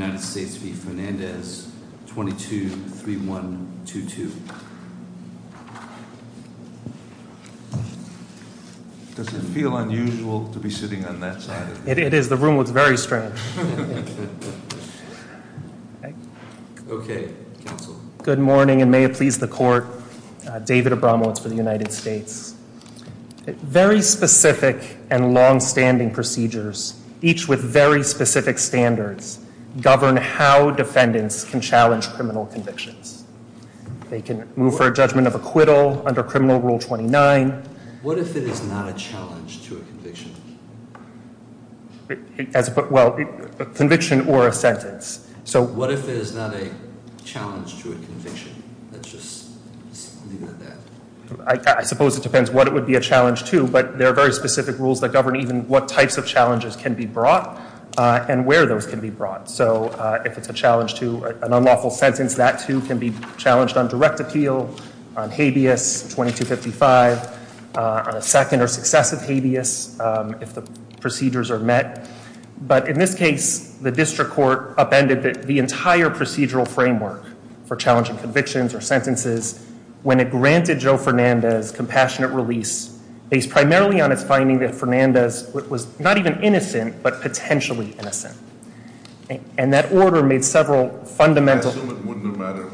22-3122. Does it feel unusual to be sitting on that side of the room? It is, the room looks very strange. Okay, counsel. Good morning and may it please the court, David Abramowitz for the United States. Very specific and long-standing procedures, each with very specific standards, govern how defendants can challenge criminal convictions. They can move for a judgment of acquittal under criminal rule 29. What if it is not a challenge to a conviction? Well, a conviction or a sentence. So what if it is not a challenge to a conviction? Let's just leave it at that. I suppose it depends what it would be a challenge to, but there are very specific rules that govern even what types of challenges can be brought and where those can be brought. So if it's a challenge to an unlawful sentence, that too can be challenged on direct appeal, on habeas 2255, on a second or successive habeas, if the procedures are met. But in this case, the district court upended the entire procedural framework for challenging convictions or sentences when it granted Joe Fernandez compassionate release based primarily on its innocent but potentially innocent. And that order made several fundamental- I assume it wouldn't have mattered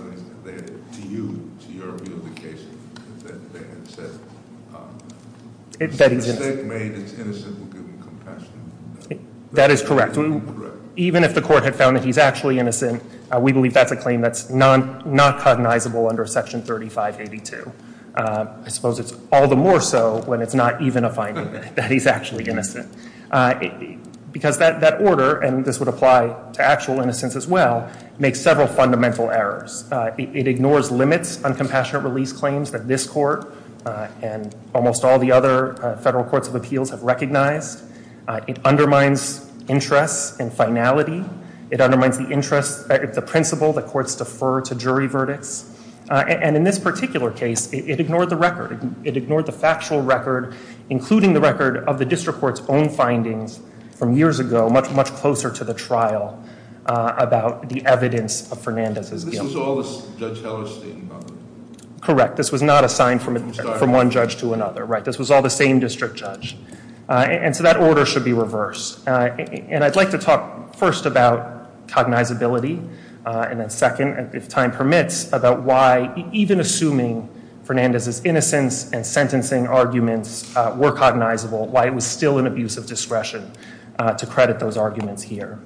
to you, to your view of the case, that they had said the mistake made is innocent will give him compassion? That is correct. Even if the court had found that he's actually innocent, we believe that's a claim that's not cognizable under section 3582. I suppose it's all the more so when it's not even a finding that he's actually innocent. Because that order, and this would apply to actual innocence as well, makes several fundamental errors. It ignores limits on compassionate release claims that this court and almost all the other federal courts of appeals have recognized. It undermines interests and finality. It undermines the interest, the principle that courts defer to jury verdicts. And in this particular case, it ignored the record. It ignored the factual record, including the record of the district court's own findings from years ago, much closer to the trial, about the evidence of Fernandez's guilt. This was all Judge Heller's statement? Correct. This was not assigned from one judge to another, right? This was all the same district judge. And so that order should be reversed. And I'd like to talk first about cognizability, and then second, if time permits, about why even assuming Fernandez's innocence and sentencing arguments were cognizable, why it was still an abuse of discretion to credit those arguments here.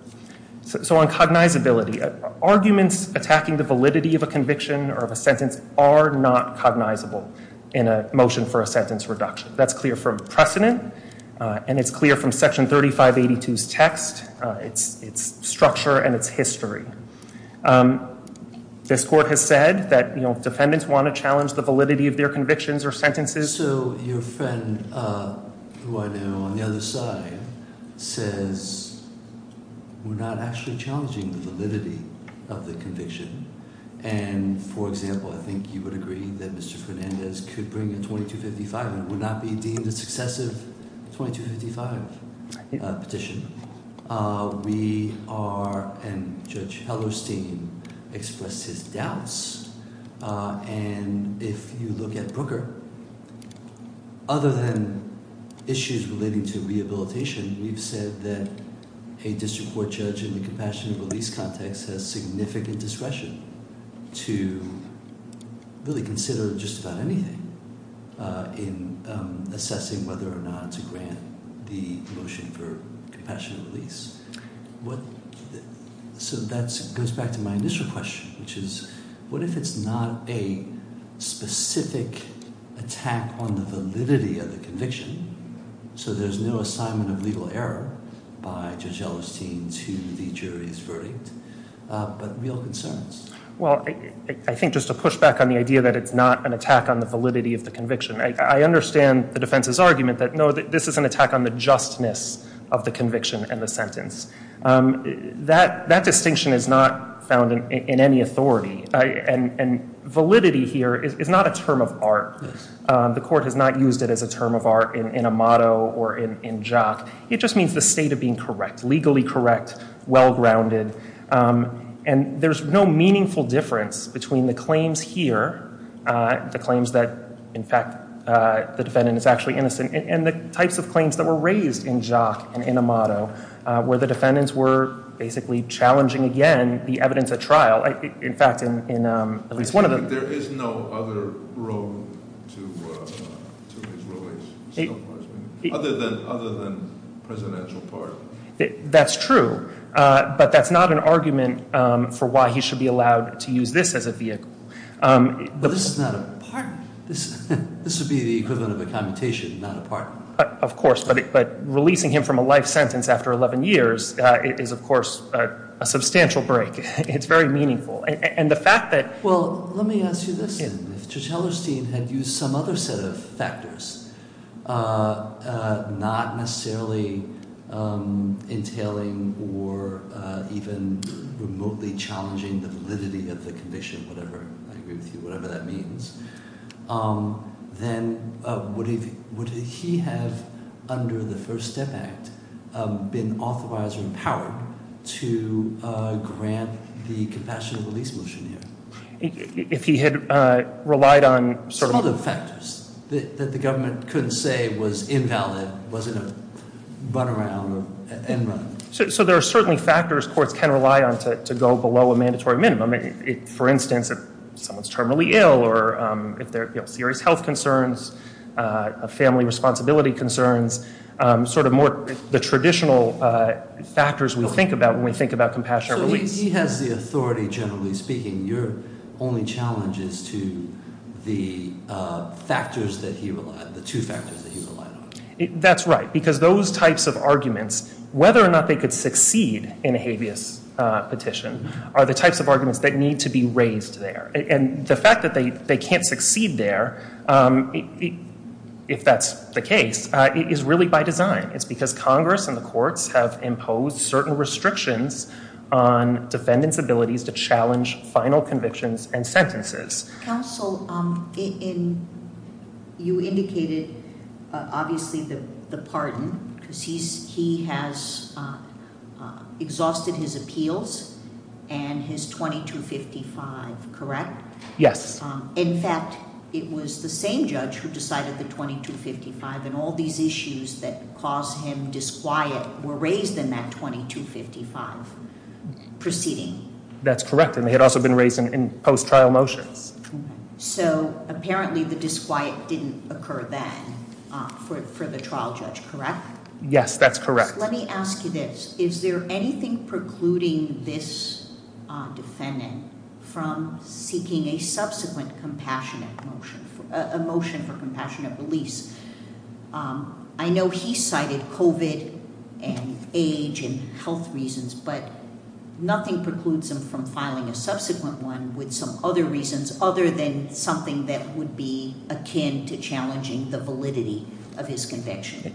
So on cognizability, arguments attacking the validity of a conviction or of a sentence are not cognizable in a motion for a sentence reduction. That's clear from precedent, and it's clear from Section 3582's text, its structure, and its history. This court has said that defendants want to challenge the validity of their convictions or sentences. So your friend, who I know on the other side, says we're not actually challenging the validity of the conviction. And for example, I think you would agree that Mr. Fernandez could bring a 2255, and it would not be deemed a successive 2255 petition. We are, and Judge Brooker, other than issues relating to rehabilitation, we've said that a district court judge in the compassionate release context has significant discretion to really consider just about anything in assessing whether or not to grant the motion for compassionate release. So that goes back to my initial question, which is what if it's not a specific attack on the validity of the conviction, so there's no assignment of legal error by Judge Ellerstein to the jury's verdict, but real concerns? Well, I think just to push back on the idea that it's not an attack on the validity of the conviction, I understand the defense's innocence. That distinction is not found in any authority. And validity here is not a term of art. The court has not used it as a term of art in Amato or in Jock. It just means the state of being correct, legally correct, well-grounded. And there's no meaningful difference between the claims here, the claims that, in fact, the defendant is actually innocent, and the types of claims that were raised in Jock and in Amato, where the defendants were basically challenging again the evidence at trial. In fact, in at least one of them- There is no other road to his release so far, other than presidential pardon. That's true, but that's not an argument for why he should be allowed to use this as a vehicle. But this is not a pardon. This would be the equivalent of a commutation, not a pardon. Of course, but releasing him from a life sentence after 11 years is, of course, a substantial break. It's very meaningful. And the fact that- Well, let me ask you this. If Judge Hellerstein had used some other set of factors, not necessarily entailing or even remotely challenging the validity of the conviction, I agree with you, whatever that means, then would he have, under the First Step Act, been authorized or empowered to grant the compassionate release motion here? If he had relied on- Sort of factors that the government couldn't say was invalid, wasn't a runaround or end run. So there are certainly factors courts can rely on to go below a mandatory minimum. For instance, if someone's terminally ill or if there are serious health concerns, family responsibility concerns, sort of more the traditional factors we think about when we think about compassionate release. He has the authority, generally speaking. Your only challenge is to the factors that he relied, the two factors that he relied on. That's right, because those types of arguments, whether or not they could succeed in a habeas petition, are the types of arguments that need to be raised there. And the fact that they can't succeed there, if that's the case, is really by design. It's because Congress and the courts have imposed certain restrictions on defendants' abilities to challenge final convictions and sentences. Counsel, you indicated, obviously, the pardon, because he has exhausted his appeals and his 2255, correct? Yes. In fact, it was the same judge who decided the 2255. And all these issues that caused him disquiet were raised in that 2255 proceeding. That's correct, and they had also been raised in post-trial motions. So apparently the disquiet didn't occur then for the trial judge, correct? Yes, that's correct. Let me ask you this. Is there anything precluding this defendant from seeking a subsequent compassionate motion, a motion for compassionate release? I know he cited COVID and age and health reasons, but nothing precludes him from filing a subsequent with some other reasons other than something that would be akin to challenging the validity of his conviction.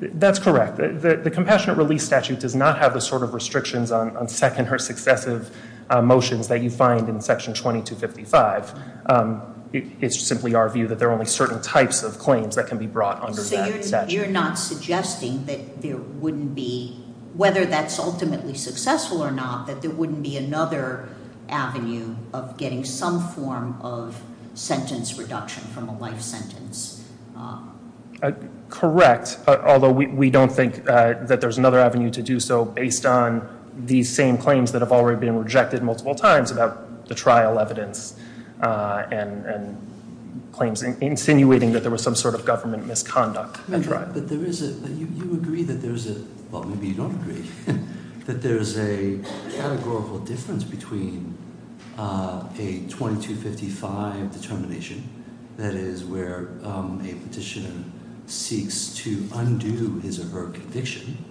That's correct. The compassionate release statute does not have the sort of restrictions on second or successive motions that you find in section 2255. It's simply our view that there are only certain types of claims that can be brought onto that statute. So you're not suggesting that there wouldn't be, whether that's ultimately successful or not, that there wouldn't be another avenue of getting some form of sentence reduction from a life sentence? Correct, although we don't think that there's another avenue to do so based on these same claims that have already been rejected multiple times about the trial evidence and claims insinuating that there was some sort of government misconduct. But you agree that there's a, well maybe you don't agree, that there's a categorical difference between a 2255 determination, that is where a petitioner seeks to undo his or her conviction,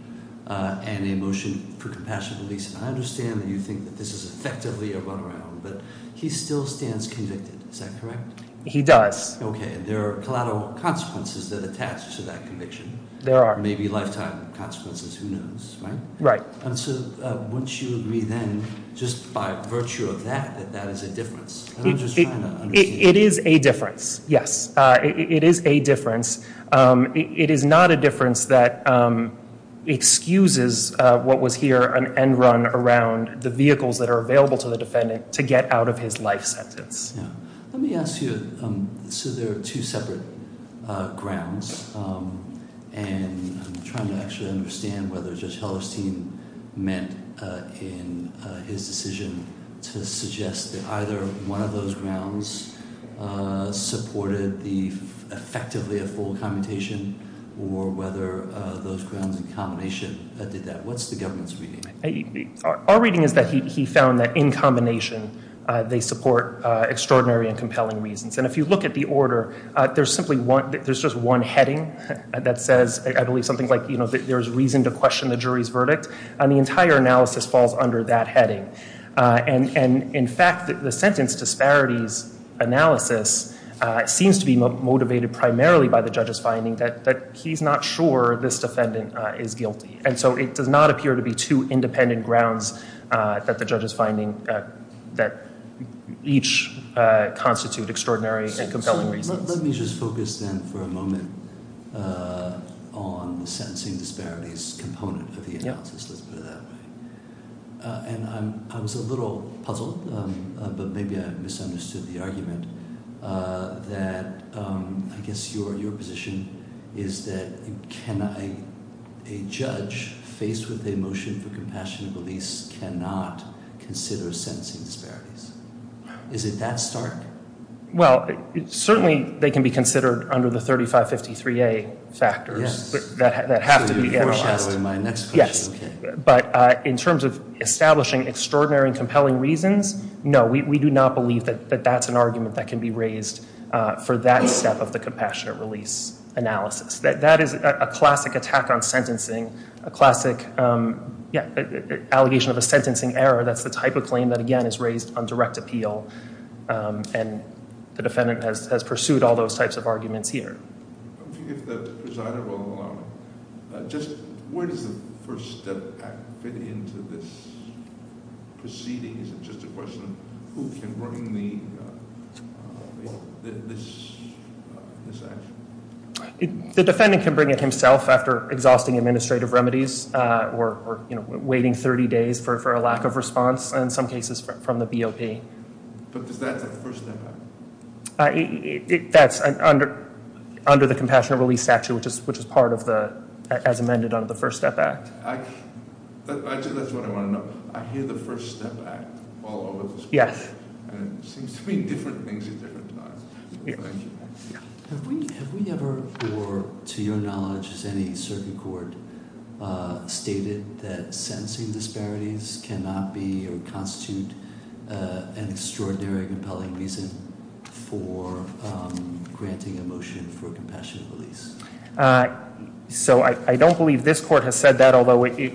and a motion for compassionate release. I understand that you think that this is effectively a runaround, but he still stands convicted, is that correct? He does. Okay, there are collateral consequences that attach to that conviction. There are. Maybe lifetime consequences, who knows, right? Right. So wouldn't you agree then, just by virtue of that, that that is a difference? I'm just trying to understand. It is a difference, yes. It is a difference. It is not a difference that excuses what was here an end run around the vehicles that are available to the defendant to get out of his life sentence. Let me ask you, so there are two separate grounds, and I'm trying to actually understand whether Judge Hellerstein meant in his decision to suggest that either one of those grounds supported effectively a full commutation, or whether those grounds in combination did that. What's the government's reading? Our reading is that he found that in combination, they support extraordinary and compelling reasons. And if you look at the order, there's simply one, there's just one heading that says, I believe, something like, you know, there's reason to question the jury's verdict. And the entire analysis falls under that heading. And in fact, the sentence disparities analysis seems to be motivated primarily by the judge's finding that he's not sure this defendant is guilty. And so it does not appear to be two independent grounds that the judge is finding that each constitute extraordinary and compelling reasons. Let me just focus then for a moment on the sentencing disparities component of the analysis. Let's put it that way. And I was a little puzzled, but maybe I misunderstood the argument that, I guess, your position is that a judge faced with a motion for compassionate release cannot consider sentencing disparities. Is it that stark? Well, certainly, they can be considered under the 3553A factors that have to be- So you're foreshadowing my next question. Yes. But in terms of establishing extraordinary and compelling reasons, no, we do not believe that that's an argument that can be raised for that step of the compassionate release analysis. That is a classic attack on sentencing, a classic, yeah, allegation of a sentencing error. That's the type of claim that, again, is raised on direct appeal. And the defendant has pursued all those types of arguments here. If the presider will allow me, just where does the first step fit into this proceeding? Is it just a question of who can bring this action? The defendant can bring it himself after exhausting administrative remedies, or waiting 30 days for a lack of response, and in some cases from the BOP. But does that set the first step out? That's under the compassionate release statute, which is part of the, as amended under the First Step Act. That's what I want to know. I hear the First Step Act all over this court. Yes. And it seems to mean different things at different times. Have we ever, or to your knowledge, has any certain court stated that sentencing disparities cannot be or constitute an extraordinary and compelling reason for granting a motion for compassionate release? So I don't believe this court has said that.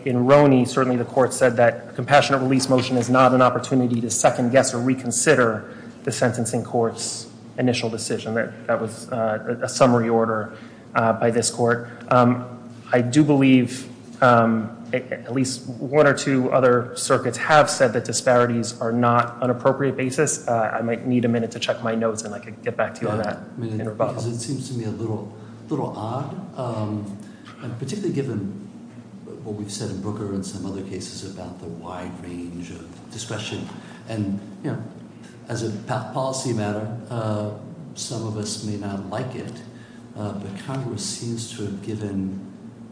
In Roney, certainly the court said that a compassionate release motion is not an opportunity to second guess or reconsider the sentencing court's initial decision. That was a summary order by this court. I do believe at least one or two other circuits have said that disparities are not an appropriate basis. I might need a minute to check my notes, and I could get back to you on that. It seems to me a little odd. And particularly given what we've said in Brooker and some other cases about the wide range of discretion. And as a policy matter, some of us may not like it, but Congress seems to have given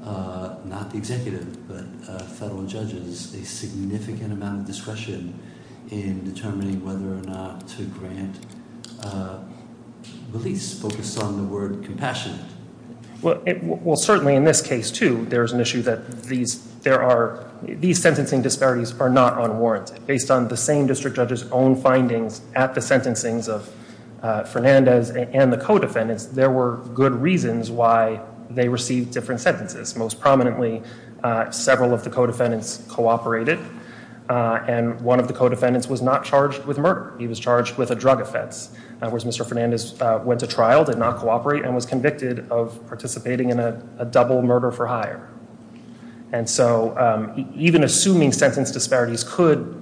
not the executive but federal judges a significant amount of discretion in determining whether or not to grant release focused on the word compassionate. Well, certainly in this case, too, there is an issue that these sentencing disparities are not unwarranted. Based on the same district judge's own findings at the sentencings of Fernandez and the co-defendants, there were good reasons why they received different sentences. Most prominently, several of the co-defendants cooperated. And one of the co-defendants was not charged with murder. He was charged with a drug offense. In other words, Mr. Fernandez went to trial, did not cooperate, and was convicted of participating in a double murder for hire. And so even assuming sentence disparities could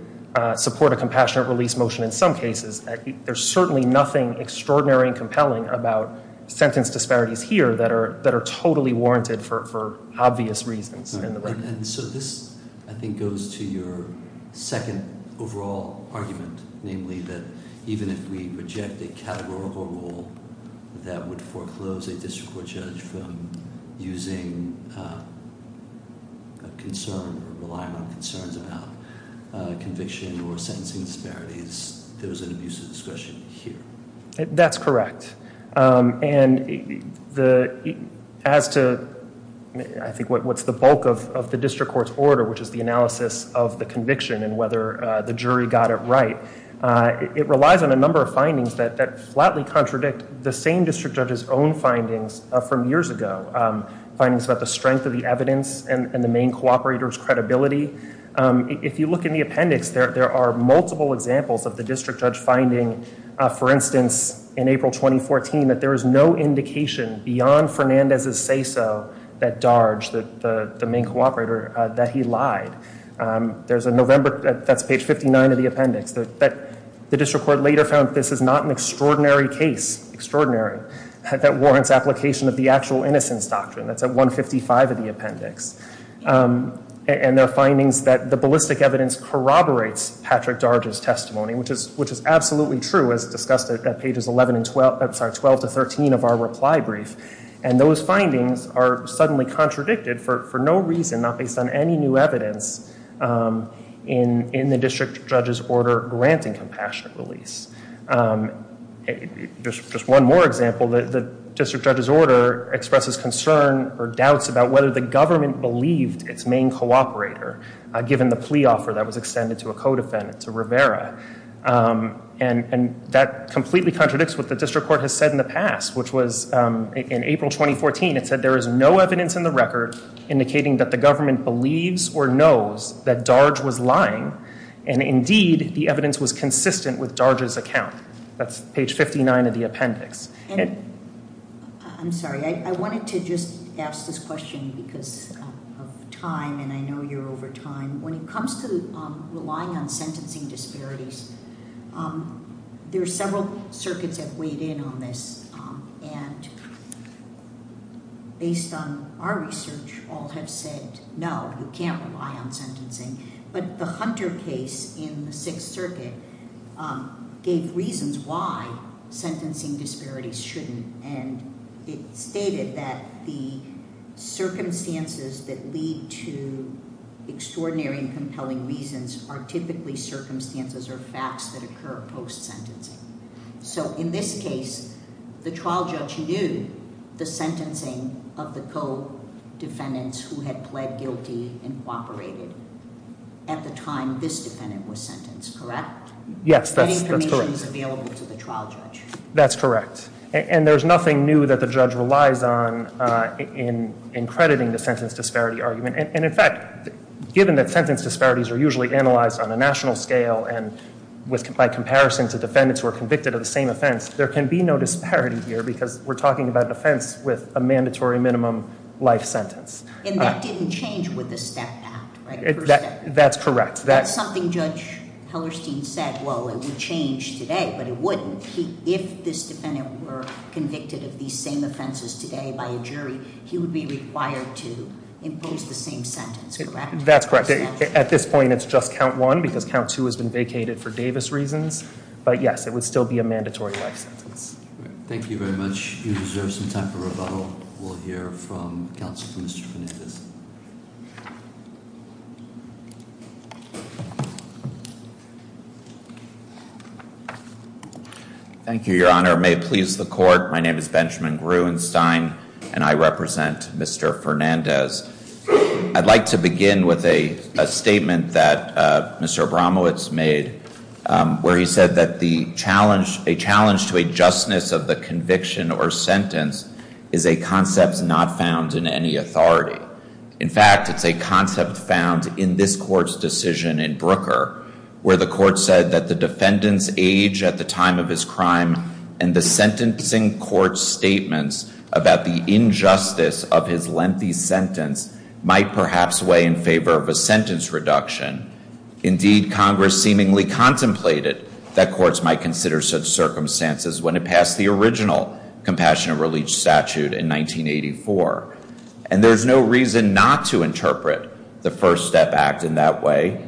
support a compassionate release motion in some cases, there's certainly nothing extraordinary and compelling about sentence disparities here that are totally warranted for obvious reasons. And so this, I think, goes to your second overall argument, namely that even if we reject a categorical rule that would foreclose a district court judge from using a concern or relying on concerns about conviction or sentencing disparities, there was an abuse of discretion here. That's correct. And as to, I think, what's the bulk of the district court's order, which is the analysis of the conviction and whether the jury got it right, it relies on a number of findings that flatly contradict the same district judge's own findings from years ago, findings about the strength of the evidence and the main cooperator's credibility. If you look in the appendix, there are multiple examples of the district judge finding, for instance, in April 2014, that there is no indication beyond Fernandez's say-so that Darge, the main cooperator, that he lied. There's a November, that's page 59 of the appendix, that the district court later found that this is not an extraordinary case, extraordinary, that warrants application of the actual innocence doctrine. That's at 155 of the appendix. And there are findings that the ballistic evidence corroborates Patrick Darge's testimony, which is absolutely true, as discussed at pages 11 and 12, sorry, 12 to 13 of our reply brief. And those findings are suddenly contradicted for no reason, not based on any new evidence in the district judge's order granting compassionate release. Just one more example, the district judge's order expresses concern or doubts about whether the government believed its main cooperator, given the plea offer that was extended to a co-defendant, to Rivera. And that completely contradicts what the district court has said in the past, which was in April 2014, it said there is no evidence in the record indicating that the government believes or knows that Darge was lying, and indeed, the evidence was consistent with Darge's testimony. That's page 59 of the appendix. And I'm sorry, I wanted to just ask this question because of time, and I know you're over time. When it comes to relying on sentencing disparities, there are several circuits that weighed in on this. And based on our research, all have said, no, you can't rely on sentencing. But the Hunter case in the Sixth Circuit gave reasons why sentencing disparities shouldn't. And it stated that the circumstances that lead to extraordinary and compelling reasons are typically circumstances or facts that occur post-sentencing. So in this case, the trial judge knew the sentencing of the co-defendants who had pled guilty and cooperated. At the time, this defendant was sentenced, correct? Yes, that's correct. That information was available to the trial judge. That's correct. And there's nothing new that the judge relies on in crediting the sentence disparity argument. And in fact, given that sentence disparities are usually analyzed on a national scale, and by comparison to defendants who are convicted of the same offense, there can be no disparity here because we're talking about an offense with a mandatory minimum life sentence. And that didn't change with the STEP Act, right? That's correct. That's something Judge Hellerstein said, well, it would change today, but it wouldn't. If this defendant were convicted of these same offenses today by a jury, he would be required to impose the same sentence, correct? That's correct. At this point, it's just count one because count two has been vacated for Davis reasons. But yes, it would still be a mandatory life sentence. Thank you very much. You deserve some time for rebuttal. We'll hear from counsel for Mr. Fernandez. Thank you, Your Honor. May it please the court. My name is Benjamin Gruenstein, and I represent Mr. Fernandez. I'd like to begin with a statement that Mr. Abramowitz made where he said that a challenge to a justness of the conviction or sentence is a concept not found in any authority. In fact, it's a concept found in this court's decision in Brooker, where the court said that the defendant's age at the time of his crime and the sentencing court's statements about the injustice of his lengthy sentence might perhaps weigh in favor of a sentence reduction. Indeed, Congress seemingly contemplated that courts might consider such circumstances when it passed the original Compassionate Release statute in 1984. And there's no reason not to interpret the First Step Act in that way.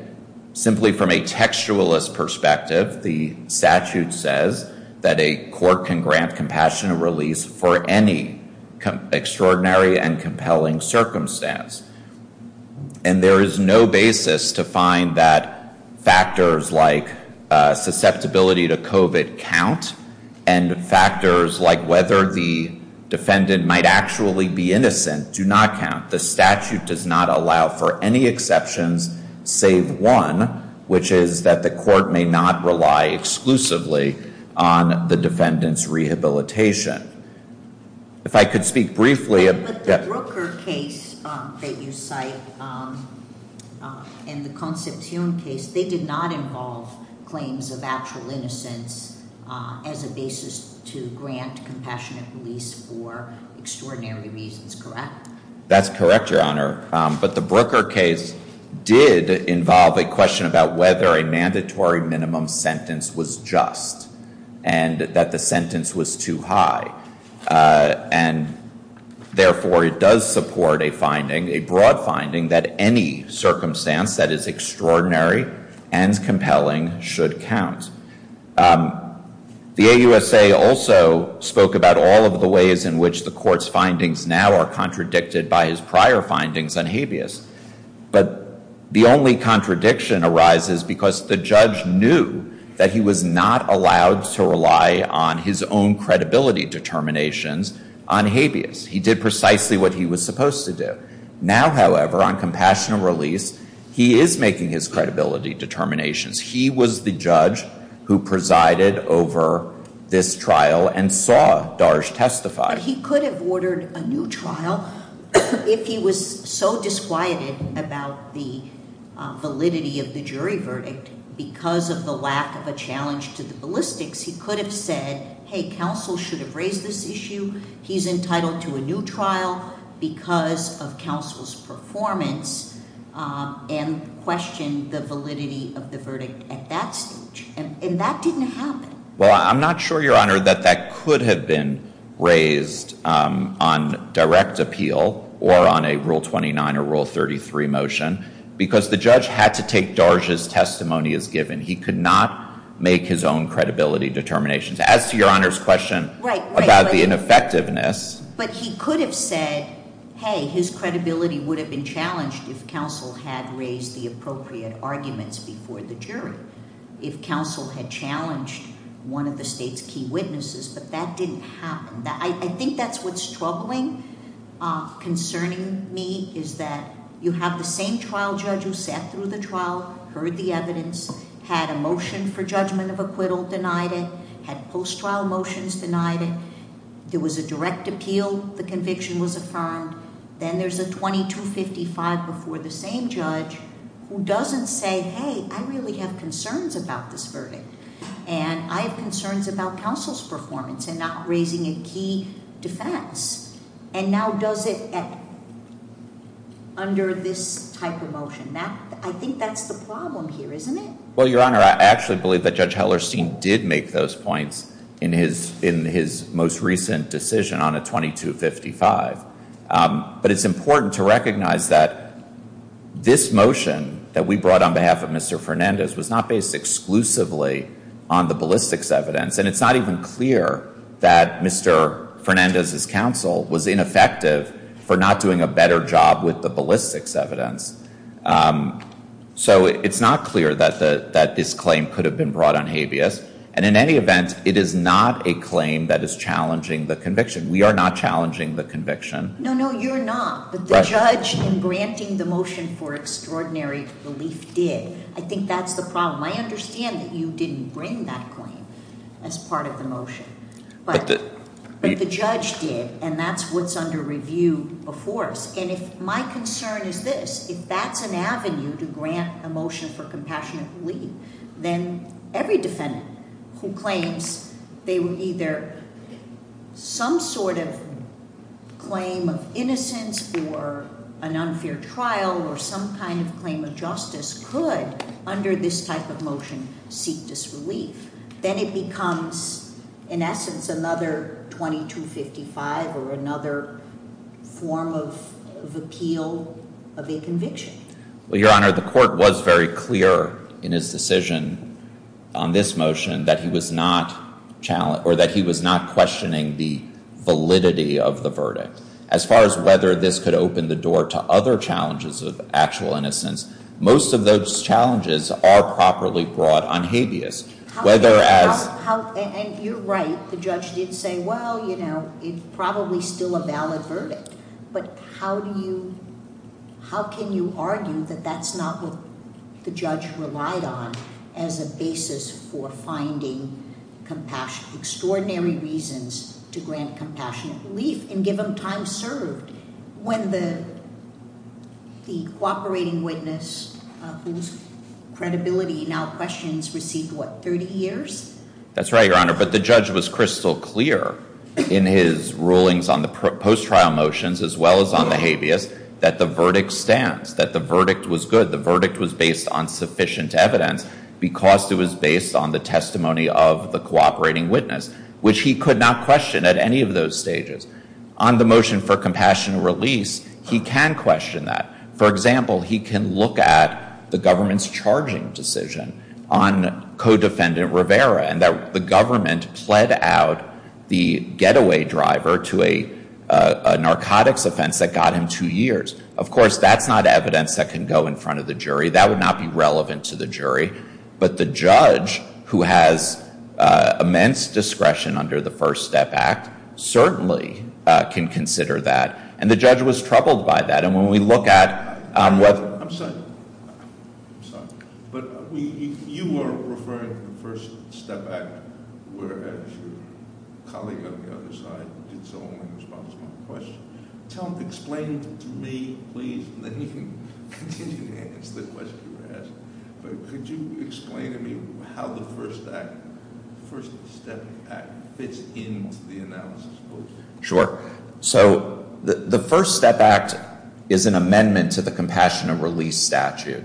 Simply from a textualist perspective, the statute says that a court can grant Compassionate Release for any extraordinary and compelling circumstance. And there is no basis to find that factors like susceptibility to COVID count and factors like whether the defendant might actually be innocent do not count. The statute does not allow for any exceptions save one, which is that the court may not rely exclusively on the defendant's rehabilitation. If I could speak briefly. But the Brooker case that you cite and the Concepcion case, they did not involve claims of actual innocence as a basis to grant Compassionate Release for extraordinary reasons, correct? That's correct, Your Honor. But the Brooker case did involve a question about whether a mandatory minimum sentence was just and that the sentence was too high. And therefore, it does support a finding, a broad finding, that any circumstance that is extraordinary and compelling should count. The AUSA also spoke about all of the ways in which the court's findings now are contradicted by his prior findings on habeas. But the only contradiction arises because the judge knew that he was not allowed to on habeas. He did precisely what he was supposed to do. Now, however, on Compassionate Release, he is making his credibility determinations. He was the judge who presided over this trial and saw Darge testify. He could have ordered a new trial if he was so disquieted about the validity of the jury verdict because of the lack of a challenge to the ballistics. He could have said, hey, counsel should have raised this issue. He's entitled to a new trial because of counsel's performance and questioned the validity of the verdict at that stage. And that didn't happen. Well, I'm not sure, Your Honor, that that could have been raised on direct appeal or on a Rule 29 or Rule 33 motion because the judge had to take Darge's testimony as given. He could not make his own credibility determinations. As to Your Honor's question about the ineffectiveness. But he could have said, hey, his credibility would have been challenged if counsel had raised the appropriate arguments before the jury, if counsel had challenged one of the state's key witnesses. But that didn't happen. I think that's what's troubling, concerning me, is that you have the same trial judge who sat through the trial, heard the evidence, had a motion for judgment of acquittal, denied it, had post-trial motions, denied it. There was a direct appeal. The conviction was affirmed. Then there's a 2255 before the same judge who doesn't say, hey, I really have concerns about this verdict. And I have concerns about counsel's performance and not raising a key defense. And now does it under this type of motion. I think that's the problem here, isn't it? Well, Your Honor, I actually believe that Judge Hellerstein did make those points in his most recent decision on a 2255. But it's important to recognize that this motion that we brought on behalf of Mr. Fernandez was not based exclusively on the ballistics evidence. And it's not even clear that Mr. Fernandez's counsel was ineffective for not doing a better job with the ballistics evidence. So it's not clear that this claim could have been brought on habeas. And in any event, it is not a claim that is challenging the conviction. We are not challenging the conviction. No, no, you're not. But the judge in granting the motion for extraordinary relief did. I think that's the problem. I understand that you didn't bring that claim. As part of the motion. But the judge did. And that's what's under review before us. And if my concern is this, if that's an avenue to grant a motion for compassionate relief, then every defendant who claims they were either some sort of claim of innocence or an unfair trial or some kind of claim of justice could under this type of motion seek disrelief. Then it becomes, in essence, another 2255 or another form of appeal of a conviction. Well, Your Honor, the court was very clear in his decision on this motion that he was not challenged or that he was not questioning the validity of the verdict. As far as whether this could open the door to other challenges of actual innocence, most of those challenges are properly brought on habeas. Whether as- And you're right, the judge did say, well, it's probably still a valid verdict. But how do you, how can you argue that that's not what the judge relied on as a basis for finding extraordinary reasons to grant compassionate relief and give them time served? When the cooperating witness whose credibility now questions received, what, 30 years? That's right, Your Honor. But the judge was crystal clear in his rulings on the post-trial motions as well as on the habeas that the verdict stands, that the verdict was good. The verdict was based on sufficient evidence because it was based on the testimony of the cooperating witness, which he could not question at any of those stages. On the motion for compassionate release, he can question that. For example, he can look at the government's charging decision on co-defendant Rivera and that the government pled out the getaway driver to a narcotics offense that got him two years. Of course, that's not evidence that can go in front of the jury. That would not be relevant to the jury. But the judge who has immense discretion under the First Step Act certainly can consider that. And the judge was troubled by that. And when we look at whether- I'm sorry, I'm sorry. But you were referring to the First Step Act, whereas your colleague on the other side did so only in response to my question. Explain to me, please, and then you can continue to answer the question you were asking. But could you explain to me how the First Step Act fits into the analysis? Sure. So the First Step Act is an amendment to the Compassionate Release Statute,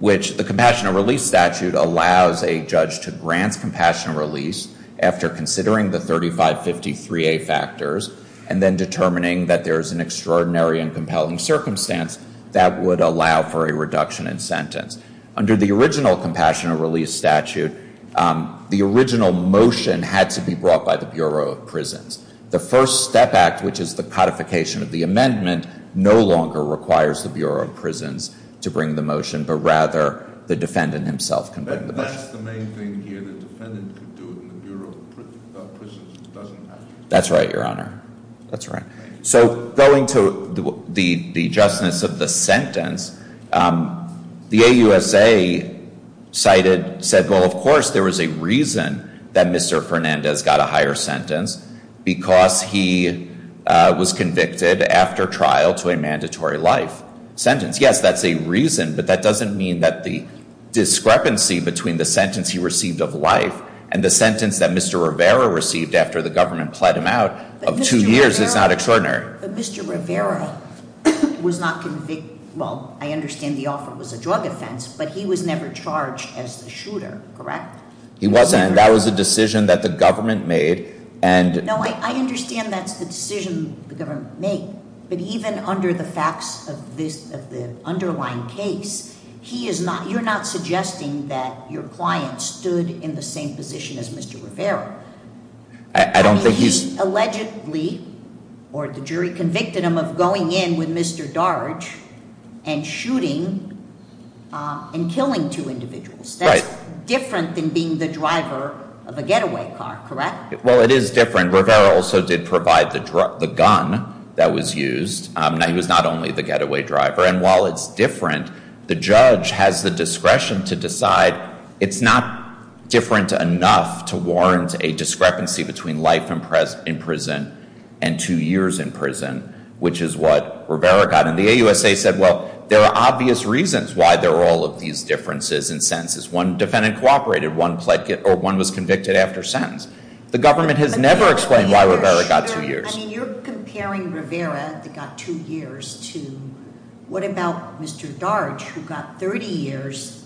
which the Compassionate Release Statute allows a judge to grant compassionate release after considering the 3553A factors and then determining that there is an extraordinary and compelling circumstance that would allow for a reduction in sentence. Under the original Compassionate Release Statute, the original motion had to be brought by the Bureau of Prisons. The First Step Act, which is the codification of the amendment, no longer requires the Bureau of Prisons to bring the motion, but rather the defendant himself can bring the motion. But that's the main thing here. The defendant could do it, and the Bureau of Prisons doesn't have to. That's right, Your Honor. That's right. So going to the justness of the sentence, the AUSA cited, said, well, of course, there was a reason that Mr. Fernandez got a higher sentence because he was convicted after trial to a mandatory life sentence. Yes, that's a reason, but that doesn't mean that the discrepancy between the sentence he received of life and the sentence that Mr. Rivera received after the government plead him out of two years is not extraordinary. But Mr. Rivera was not convicted, well, I understand the offer was a drug offense, but he was never charged as the shooter, correct? He wasn't. That was a decision that the government made. No, I understand that's the decision the government made, but even under the facts of the underlying case, you're not suggesting that your client stood in the same position as Mr. Rivera. I don't think he's- He allegedly, or the jury convicted him of going in with Mr. Darge and shooting and killing two individuals. That's different than being the driver of a getaway car, correct? Well, it is different. Rivera also did provide the gun that was used. Now, he was not only the getaway driver. And while it's different, the judge has the discretion to decide. It's not different enough to warrant a discrepancy between life in prison and two years in prison, which is what Rivera got. And the AUSA said, well, there are obvious reasons why there are all of these differences in sentences. One defendant cooperated, one was convicted after sentence. The government has never explained why Rivera got two years. I mean, you're comparing Rivera that got two years to, what about Mr. Darge, who got 30 years,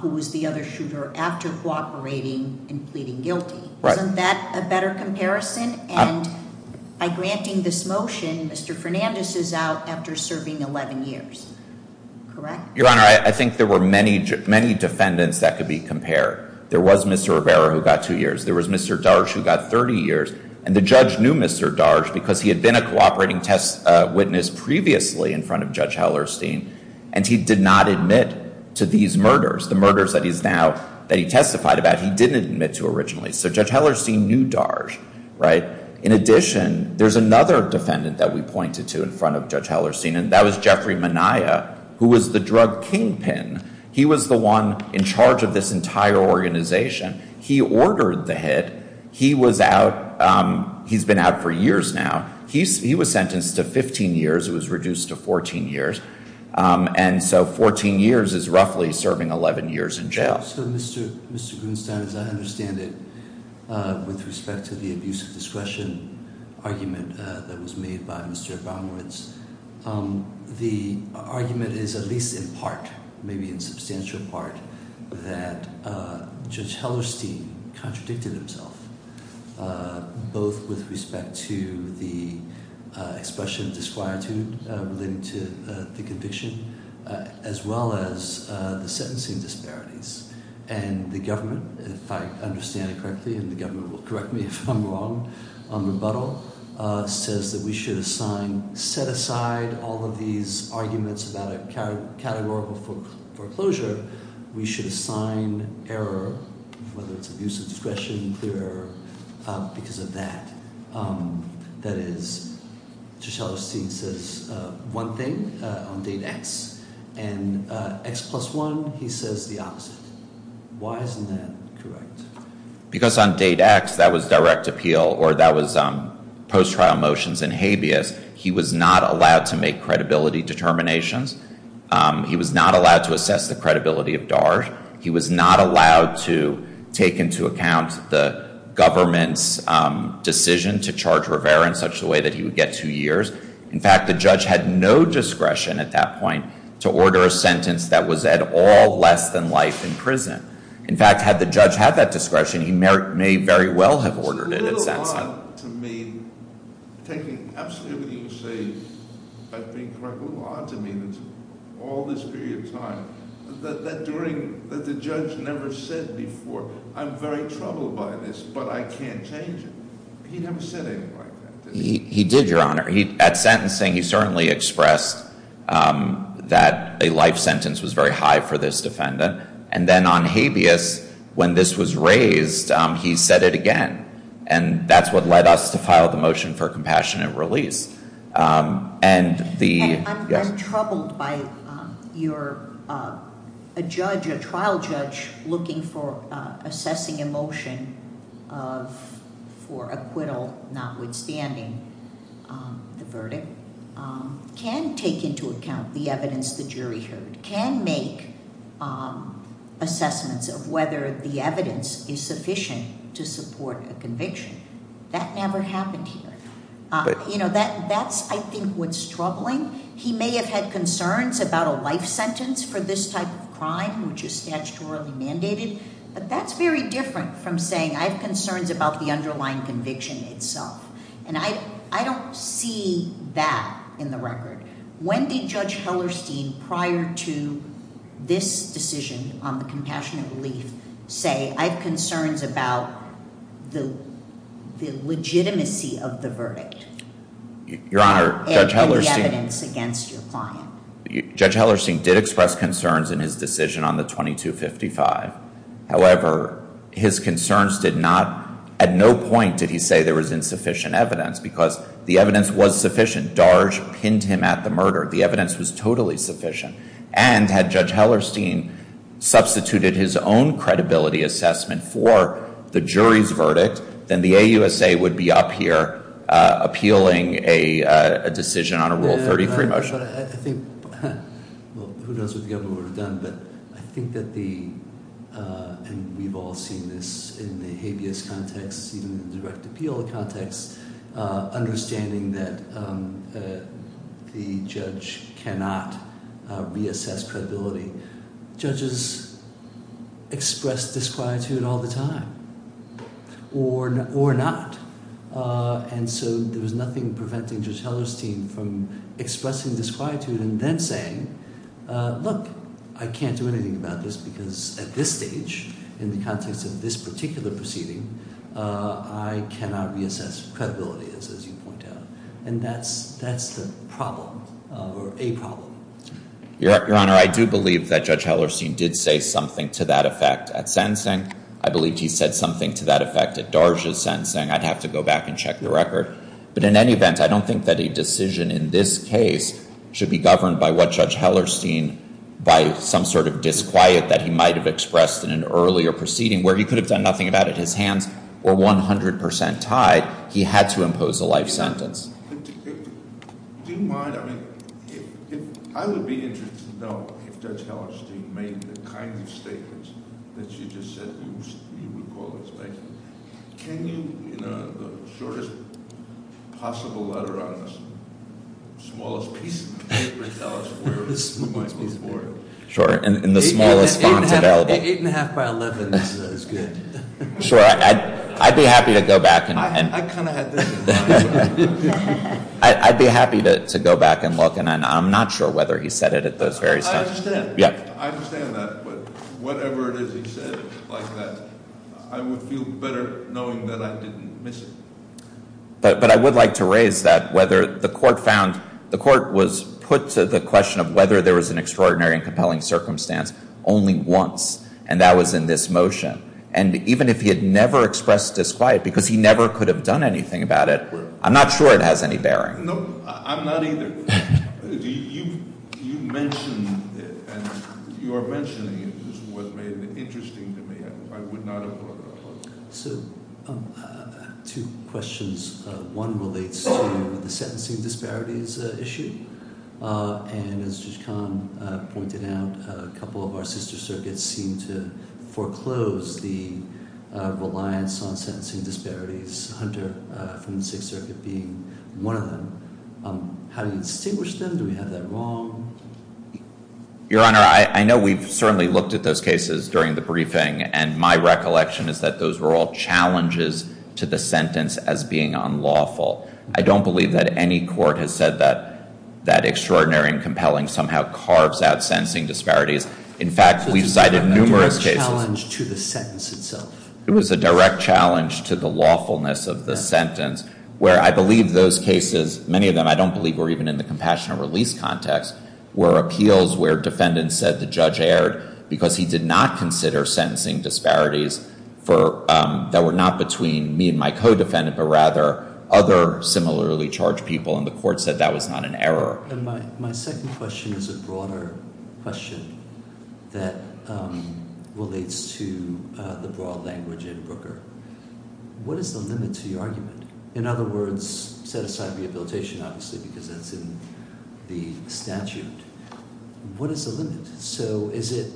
who was the other shooter after cooperating and pleading guilty? Isn't that a better comparison? And by granting this motion, Mr. Fernandez is out after serving 11 years, correct? Your Honor, I think there were many defendants that could be compared. There was Mr. Rivera who got two years. There was Mr. Darge who got 30 years. And the judge knew Mr. Darge because he had been a cooperating test previously in front of Judge Hellerstein, and he did not admit to these murders, the murders that he's now, that he testified about, he didn't admit to originally. So Judge Hellerstein knew Darge, right? In addition, there's another defendant that we pointed to in front of Judge Hellerstein, and that was Jeffrey Minaya, who was the drug kingpin. He was the one in charge of this entire organization. He ordered the hit. He was out, he's been out for years now. He was sentenced to 15 years. It was reduced to 14 years. And so 14 years is roughly serving 11 years in jail. So Mr. Grunstein, as I understand it, with respect to the abuse of discretion argument that was made by Mr. Baumritz, the argument is at least in part, maybe in substantial part, that Judge Hellerstein contradicted himself, both with respect to the expression of disquietude relating to the conviction, as well as the sentencing disparities. And the government, if I understand it correctly, and the government will correct me if I'm wrong, on rebuttal, says that we should assign, set aside all of these arguments about a categorical foreclosure, we should assign error, whether it's abuse of discretion, clear error, because of that. That is, Judge Hellerstein says one thing on date X, and X plus one, he says the opposite. Why isn't that correct? Because on date X, that was direct appeal, or that was post-trial motions and habeas. He was not allowed to make credibility determinations. He was not allowed to assess the credibility of DART. He was not allowed to take into account the government's decision to charge Rivera in such a way that he would get two years. In fact, the judge had no discretion at that point to order a sentence that was at all less than life in prison. In fact, had the judge had that discretion, he may very well have ordered it at that time. But to me, taking absolutely what you say about being correct, a little odd to me that all this period of time, that during, that the judge never said before, I'm very troubled by this, but I can't change it. He never said anything like that, did he? He did, Your Honor. At sentencing, he certainly expressed that a life sentence was very high for this defendant. And then on habeas, when this was raised, he said it again. And that's what led us to file the motion for compassionate release. And the- And I'm troubled by your, a judge, a trial judge looking for assessing a motion for acquittal, notwithstanding the verdict, can take into account the evidence the jury heard, can make assessments of whether the evidence is sufficient to support a conviction. That never happened here. You know, that's, I think, what's troubling. He may have had concerns about a life sentence for this type of crime, which is statutorily mandated. But that's very different from saying, I have concerns about the underlying conviction itself. And I don't see that in the record. When did Judge Hellerstein, prior to this decision on the compassionate relief, say, I have concerns about the legitimacy of the verdict and the evidence against your client? Judge Hellerstein did express concerns in his decision on the 2255. However, his concerns did not, at no point did he say there was insufficient evidence, because the evidence was sufficient. Darge pinned him at the murder. The evidence was totally sufficient. And had Judge Hellerstein substituted his own credibility assessment for the jury's verdict, then the AUSA would be up here appealing a decision on a Rule 30 free motion. But I think, well, who knows what the government would have done. But I think that the, and we've all seen this in the habeas context, even in the direct appeal context, understanding that the judge cannot reassess credibility. Judges express disquietude all the time, or not. And so there was nothing preventing Judge Hellerstein from expressing disquietude and then saying, look, I can't do anything about this, because at this stage, in the context of this particular proceeding, I cannot reassess credibility, as you point out. And that's the problem, or a problem. Your Honor, I do believe that Judge Hellerstein did say something to that effect at sentencing. I believe he said something to that effect at Darge's sentencing. I'd have to go back and check the record. But in any event, I don't think that a decision in this case should be governed by what Judge Hellerstein, by some sort of disquiet that he might have expressed in an earlier proceeding, where he could have done nothing about it, his hands were 100% tied. He had to impose a life sentence. Do you mind? I mean, I would be interested to know if Judge Hellerstein made the kind of statements that you just said you would call expectant. Can you, in the shortest possible letter on this, smallest piece of paper, tell us where this might be for him? Sure, in the smallest font available. Eight and a half by 11 is good. Sure, I'd be happy to go back and- I kind of had this in mind. I'd be happy to go back and look, and I'm not sure whether he said it at those various times. I understand. Yeah. I understand that. But whatever it is he said, like that, I would feel better knowing that I didn't miss it. But I would like to raise that whether the court found, the court was put to the question of whether there was an extraordinary and compelling circumstance only once, and that was in this motion. And even if he had never expressed disquiet, because he never could have done anything about it, I'm not sure it has any bearing. No, I'm not either. You mentioned, and you are mentioning it, which was made interesting to me. I would not have- So, two questions. One relates to the sentencing disparities issue. And as Judge Kahn pointed out, a couple of our sister circuits seem to foreclose the reliance on sentencing disparities, Hunter from the Sixth Circuit being one of them. How do you distinguish them? Do we have that wrong? Your Honor, I know we've certainly looked at those cases during the briefing. And my recollection is that those were all challenges to the sentence as being unlawful. I don't believe that any court has said that that extraordinary and compelling somehow carves out sentencing disparities. In fact, we've cited numerous cases- It was a direct challenge to the sentence itself. It was a direct challenge to the lawfulness of the sentence, where I believe those cases, many of them I don't believe were even in the compassionate release context, were appeals where defendants said the judge erred because he did not consider sentencing disparities that were not between me and my co-defendant, but rather other similarly charged people. And the court said that was not an error. And my second question is a broader question that relates to the broad language in Brooker. What is the limit to your argument? In other words, set aside rehabilitation, obviously, because that's in the statute. What is the limit? So is it,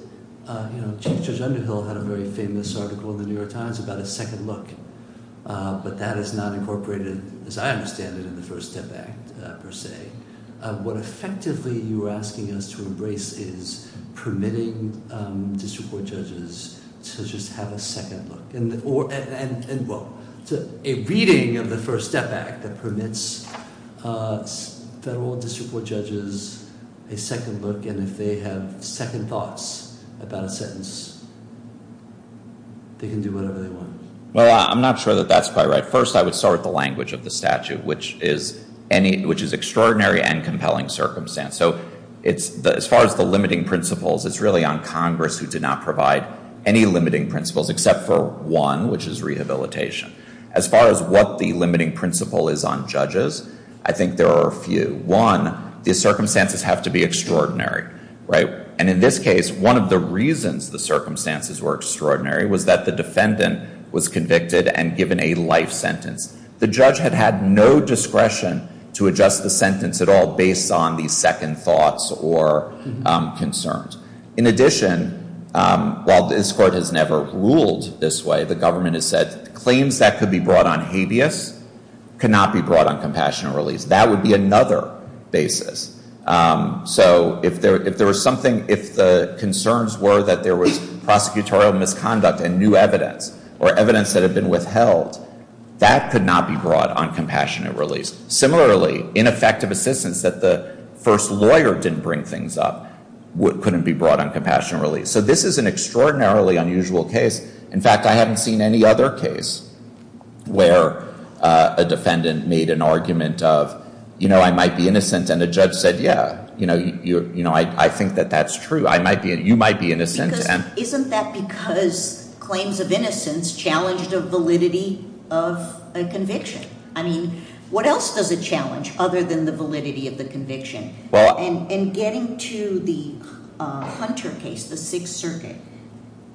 you know, Chief Judge Underhill had a very famous article in the New York Times about a second look, but that is not incorporated, as I understand it, in the First Step Act, per se. What effectively you're asking us to embrace is permitting district court judges to just have a second look and, well, a reading of the First Step Act that permits federal district judges a second look. And if they have second thoughts about a sentence, they can do whatever they want. Well, I'm not sure that that's quite right. First, I would start with the language of the statute, which is extraordinary and compelling circumstance. So as far as the limiting principles, it's really on Congress who did not provide any limiting principles except for one, which is rehabilitation. As far as what the limiting principle is on judges, I think there are a few. One, the circumstances have to be extraordinary, right? And in this case, one of the reasons the circumstances were extraordinary was that the defendant was convicted and given a life sentence. The judge had had no discretion to adjust the sentence at all based on these second thoughts or concerns. In addition, while this Court has never ruled this way, the government has said claims that could be brought on habeas cannot be brought on compassionate release. That would be another basis. So if there was something, if the concerns were that there was prosecutorial misconduct and new evidence or evidence that had been withheld, that could not be brought on compassionate release. Similarly, ineffective assistance that the first lawyer didn't bring things up couldn't be brought on compassionate release. So this is an extraordinarily unusual case. In fact, I haven't seen any other case where a defendant made an argument of, you know, I might be innocent. And a judge said, yeah, you know, I think that that's true. You might be innocent. Because isn't that because claims of innocence challenged a validity of a conviction? I mean, what else does it challenge other than the validity of the conviction? And getting to the Hunter case, the Sixth Circuit,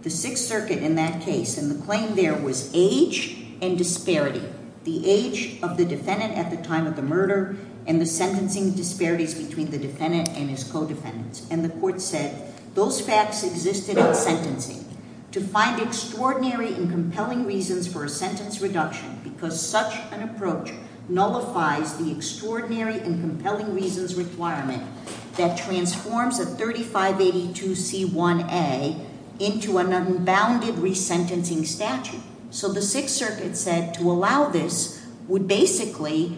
the Sixth Circuit in that case and the claim there was age and disparity. The age of the defendant at the time of the murder and the sentencing disparities between the defendant and his co-defendants. And the Court said those facts existed in sentencing. To find extraordinary and compelling reasons for a sentence reduction because such an approach nullifies the extraordinary and compelling reasons requirement that transforms a 3582 C1A into an unbounded resentencing statute. So the Sixth Circuit said to allow this would basically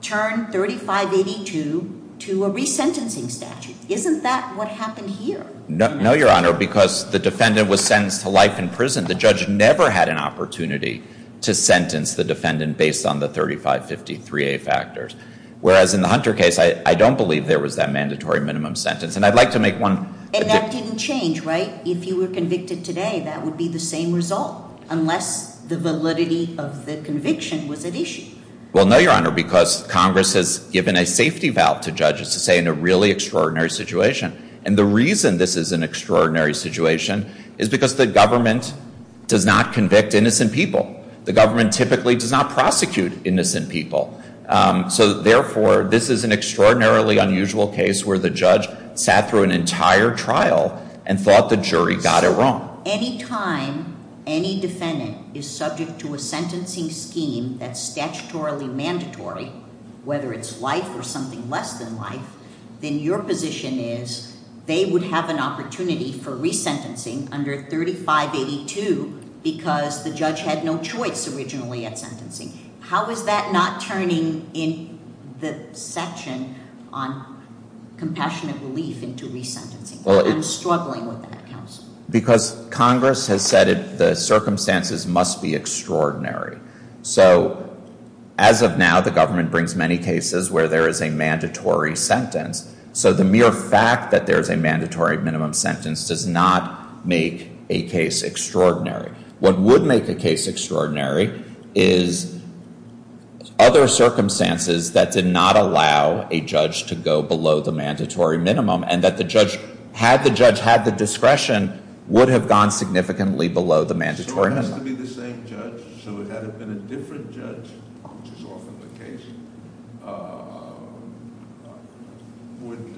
turn 3582 to a resentencing statute. Isn't that what happened here? No, Your Honor, because the defendant was sentenced to life in prison. The judge never had an opportunity to sentence the defendant based on the 3553A factors. Whereas in the Hunter case, I don't believe there was that mandatory minimum sentence. And I'd like to make one- And that didn't change, right? If you were convicted today, that would be the same result unless the validity of the conviction was at issue. Well, no, Your Honor, because Congress has given a safety valve to judges to say in a really extraordinary situation. And the reason this is an extraordinary situation is because the government does not convict innocent people. The government typically does not prosecute innocent people. So therefore, this is an extraordinarily unusual case where the judge sat through an entire trial and thought the jury got it wrong. Any time any defendant is subject to a sentencing scheme that's statutorily mandatory, whether it's life or something less than life, then your position is they would have an opportunity for resentencing under 3582 because the judge had no choice originally at sentencing. How is that not turning in the section on compassionate relief into resentencing? I'm struggling with that, counsel. So as of now, the government brings many cases where there is a mandatory sentence. So the mere fact that there is a mandatory minimum sentence does not make a case extraordinary. What would make a case extraordinary is other circumstances that did not allow a judge to go below the mandatory minimum and that the judge, had the judge had the discretion, would have gone significantly below the mandatory minimum. So it has to be the same judge? So had it been a different judge, which is often the case, would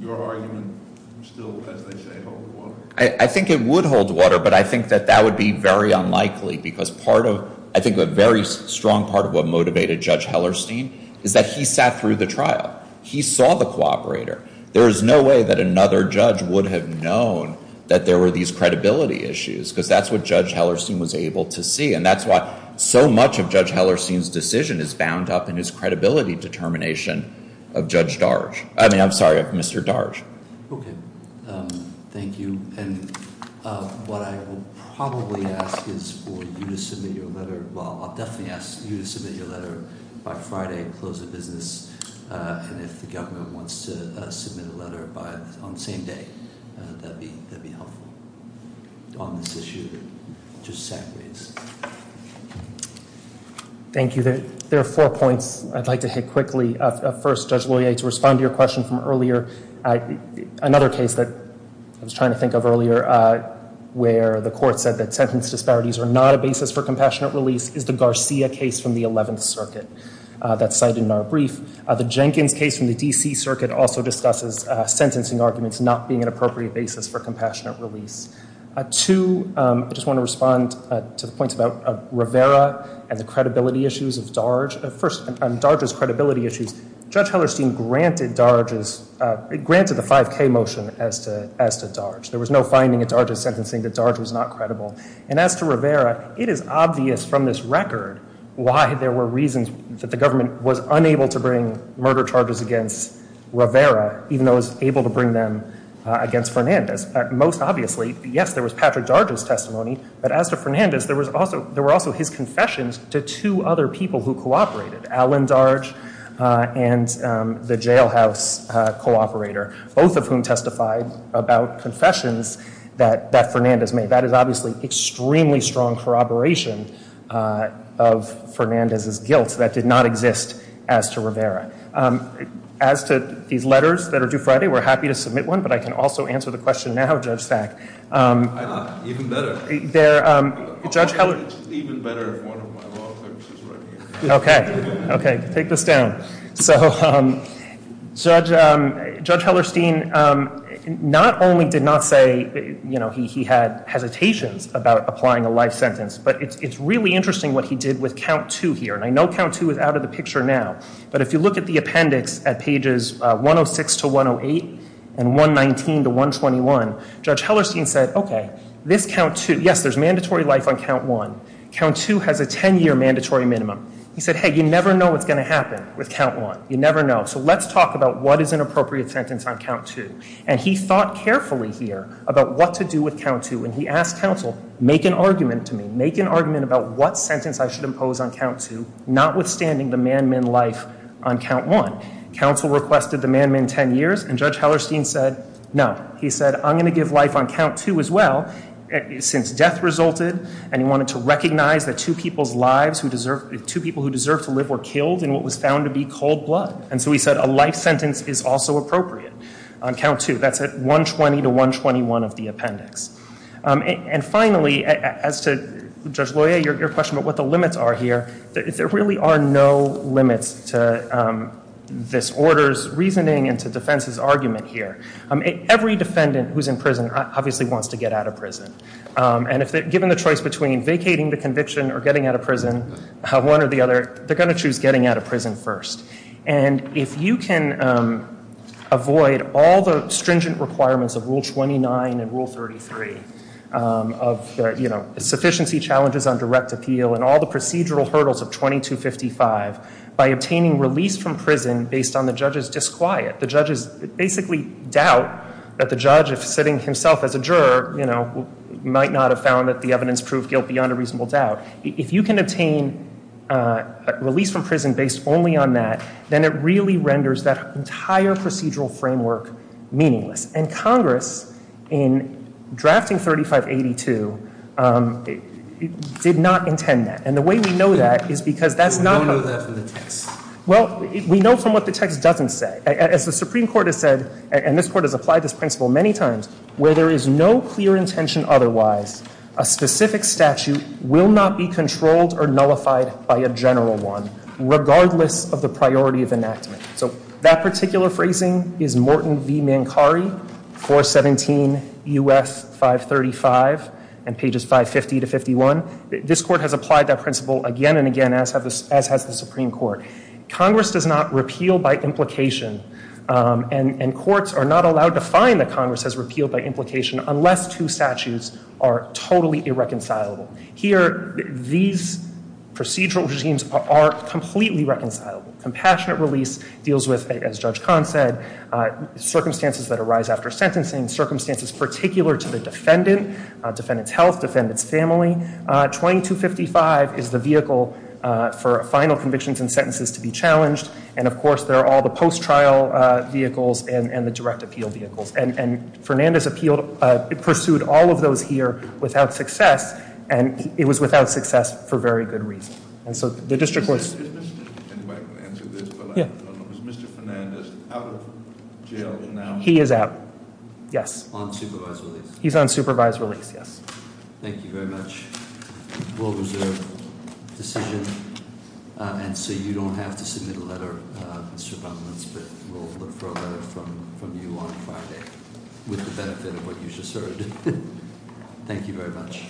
your argument still, as they say, hold water? I think it would hold water, but I think that that would be very unlikely because part of, I think a very strong part of what motivated Judge Hellerstein is that he sat through the trial. He saw the cooperator. There is no way that another judge would have known that there were these credibility issues because that's what Judge Hellerstein was able to see. And that's why so much of Judge Hellerstein's decision is bound up in his credibility determination of Judge Darge. I mean, I'm sorry, of Mr. Darge. Okay. Thank you. And what I will probably ask is for you to submit your letter. Well, I'll definitely ask you to submit your letter by Friday and close the business. And if the government wants to submit a letter on the same day, that'd be helpful. On this issue, just sideways. Thank you. There are four points I'd like to hit quickly. First, Judge Loyer, to respond to your question from earlier, another case that I was trying to think of earlier where the court said that sentence disparities are not a basis for compassionate release is the Garcia case from the 11th Circuit. That's cited in our brief. The Jenkins case from the D.C. Circuit also discusses sentencing arguments not being an appropriate basis for compassionate release. Two, I just want to respond to the points about Rivera and the credibility issues of Darge. First, on Darge's credibility issues, Judge Hellerstein granted Darge's, granted the 5K motion as to Darge. There was no finding at Darge's sentencing that Darge was not credible. And as to Rivera, it is obvious from this record why there were reasons that the government was unable to bring murder charges against Rivera, even though it was able to bring them against Fernandez. Most obviously, yes, there was Patrick Darge's testimony, but as to Fernandez, there were also his confessions to two other people who cooperated, Alan Darge and the jailhouse cooperator, both of whom testified about confessions that Fernandez made. That is obviously extremely strong corroboration of Fernandez's guilt that did not exist as to Rivera. As to these letters that are due Friday, we're happy to submit one, but I can also answer the question now, Judge Stack. I'm not, even better. There, Judge Hellerstein. Even better if one of my law clerks is right here. Okay, okay, take this down. So, Judge Hellerstein not only did not say, you know, he had hesitations about applying a life sentence, but it's really interesting what he did with count two here. And I know count two is out of the picture now, but if you look at the appendix at pages 106 to 108 and 119 to 121, Judge Hellerstein said, okay, this count two, yes, there's mandatory life on count one. Count two has a 10-year mandatory minimum. He said, hey, you never know what's going to happen with count one. You never know. So, let's talk about what is an appropriate sentence on count two. And he thought carefully here about what to do with count two, and he asked counsel, make an argument to me. Make an argument about what sentence I should impose on count two, notwithstanding the man-min life on count one. Counsel requested the man-min 10 years, and Judge Hellerstein said, no. He said, I'm going to give life on count two as well, since death resulted, and he wanted to recognize that two people's lives who deserve, two people who deserve to live were killed in what was found to be cold blood. And so, he said a life sentence is also appropriate on count two. That's at 120 to 121 of the appendix. And finally, as to Judge Loyer, your question about what the limits are here, there really are no limits to this order's reasoning and to defense's argument here. Every defendant who's in prison obviously wants to get out of prison. And if they're given the choice between vacating the conviction or getting out of prison, one or the other, they're going to choose getting out of prison first. And if you can avoid all the stringent requirements of Rule 29 and Rule 33, of sufficiency challenges on direct appeal, and all the procedural hurdles of 2255, by obtaining release from prison based on the judge's disquiet, the judge's basically doubt that the judge, if sitting himself as a juror, might not have found that the evidence proved guilt beyond a reasonable doubt. If you can obtain release from prison based only on that, then it really renders that entire procedural framework meaningless. And Congress, in drafting 3582, did not intend that. And the way we know that is because that's not how- We don't know that from the text. Well, we know from what the text doesn't say. As the Supreme Court has said, and this Court has applied this principle many times, where there is no clear intention otherwise, a specific statute will not be controlled or nullified by a general one, regardless of the priority of enactment. So that particular phrasing is Morton v. Mancari, 417 U.S. 535, and pages 550 to 51. This Court has applied that principle again and again, as has the Supreme Court. Congress does not repeal by implication, and courts are not allowed to find that Congress has repealed by implication, unless two statutes are totally irreconcilable. Here, these procedural regimes are completely reconcilable. Compassionate release deals with, as Judge Kahn said, circumstances that arise after sentencing, circumstances particular to the defendant, defendant's health, defendant's family. 2255 is the vehicle for final convictions and sentences to be challenged. And of course, there are all the post-trial vehicles and the direct appeal vehicles. And Fernandez appealed, pursued all of those here without success, and it was without success for very good reason. And so the district courts- Anybody can answer this, but I don't know. Is Mr. Fernandez out of jail now? He is out, yes. On supervised release? He's on supervised release, yes. Thank you very much. We'll reserve the decision. And so you don't have to submit a letter, Mr. Baumann, but we'll look for a letter from you on Friday, with the benefit of what you just heard. Thank you very much.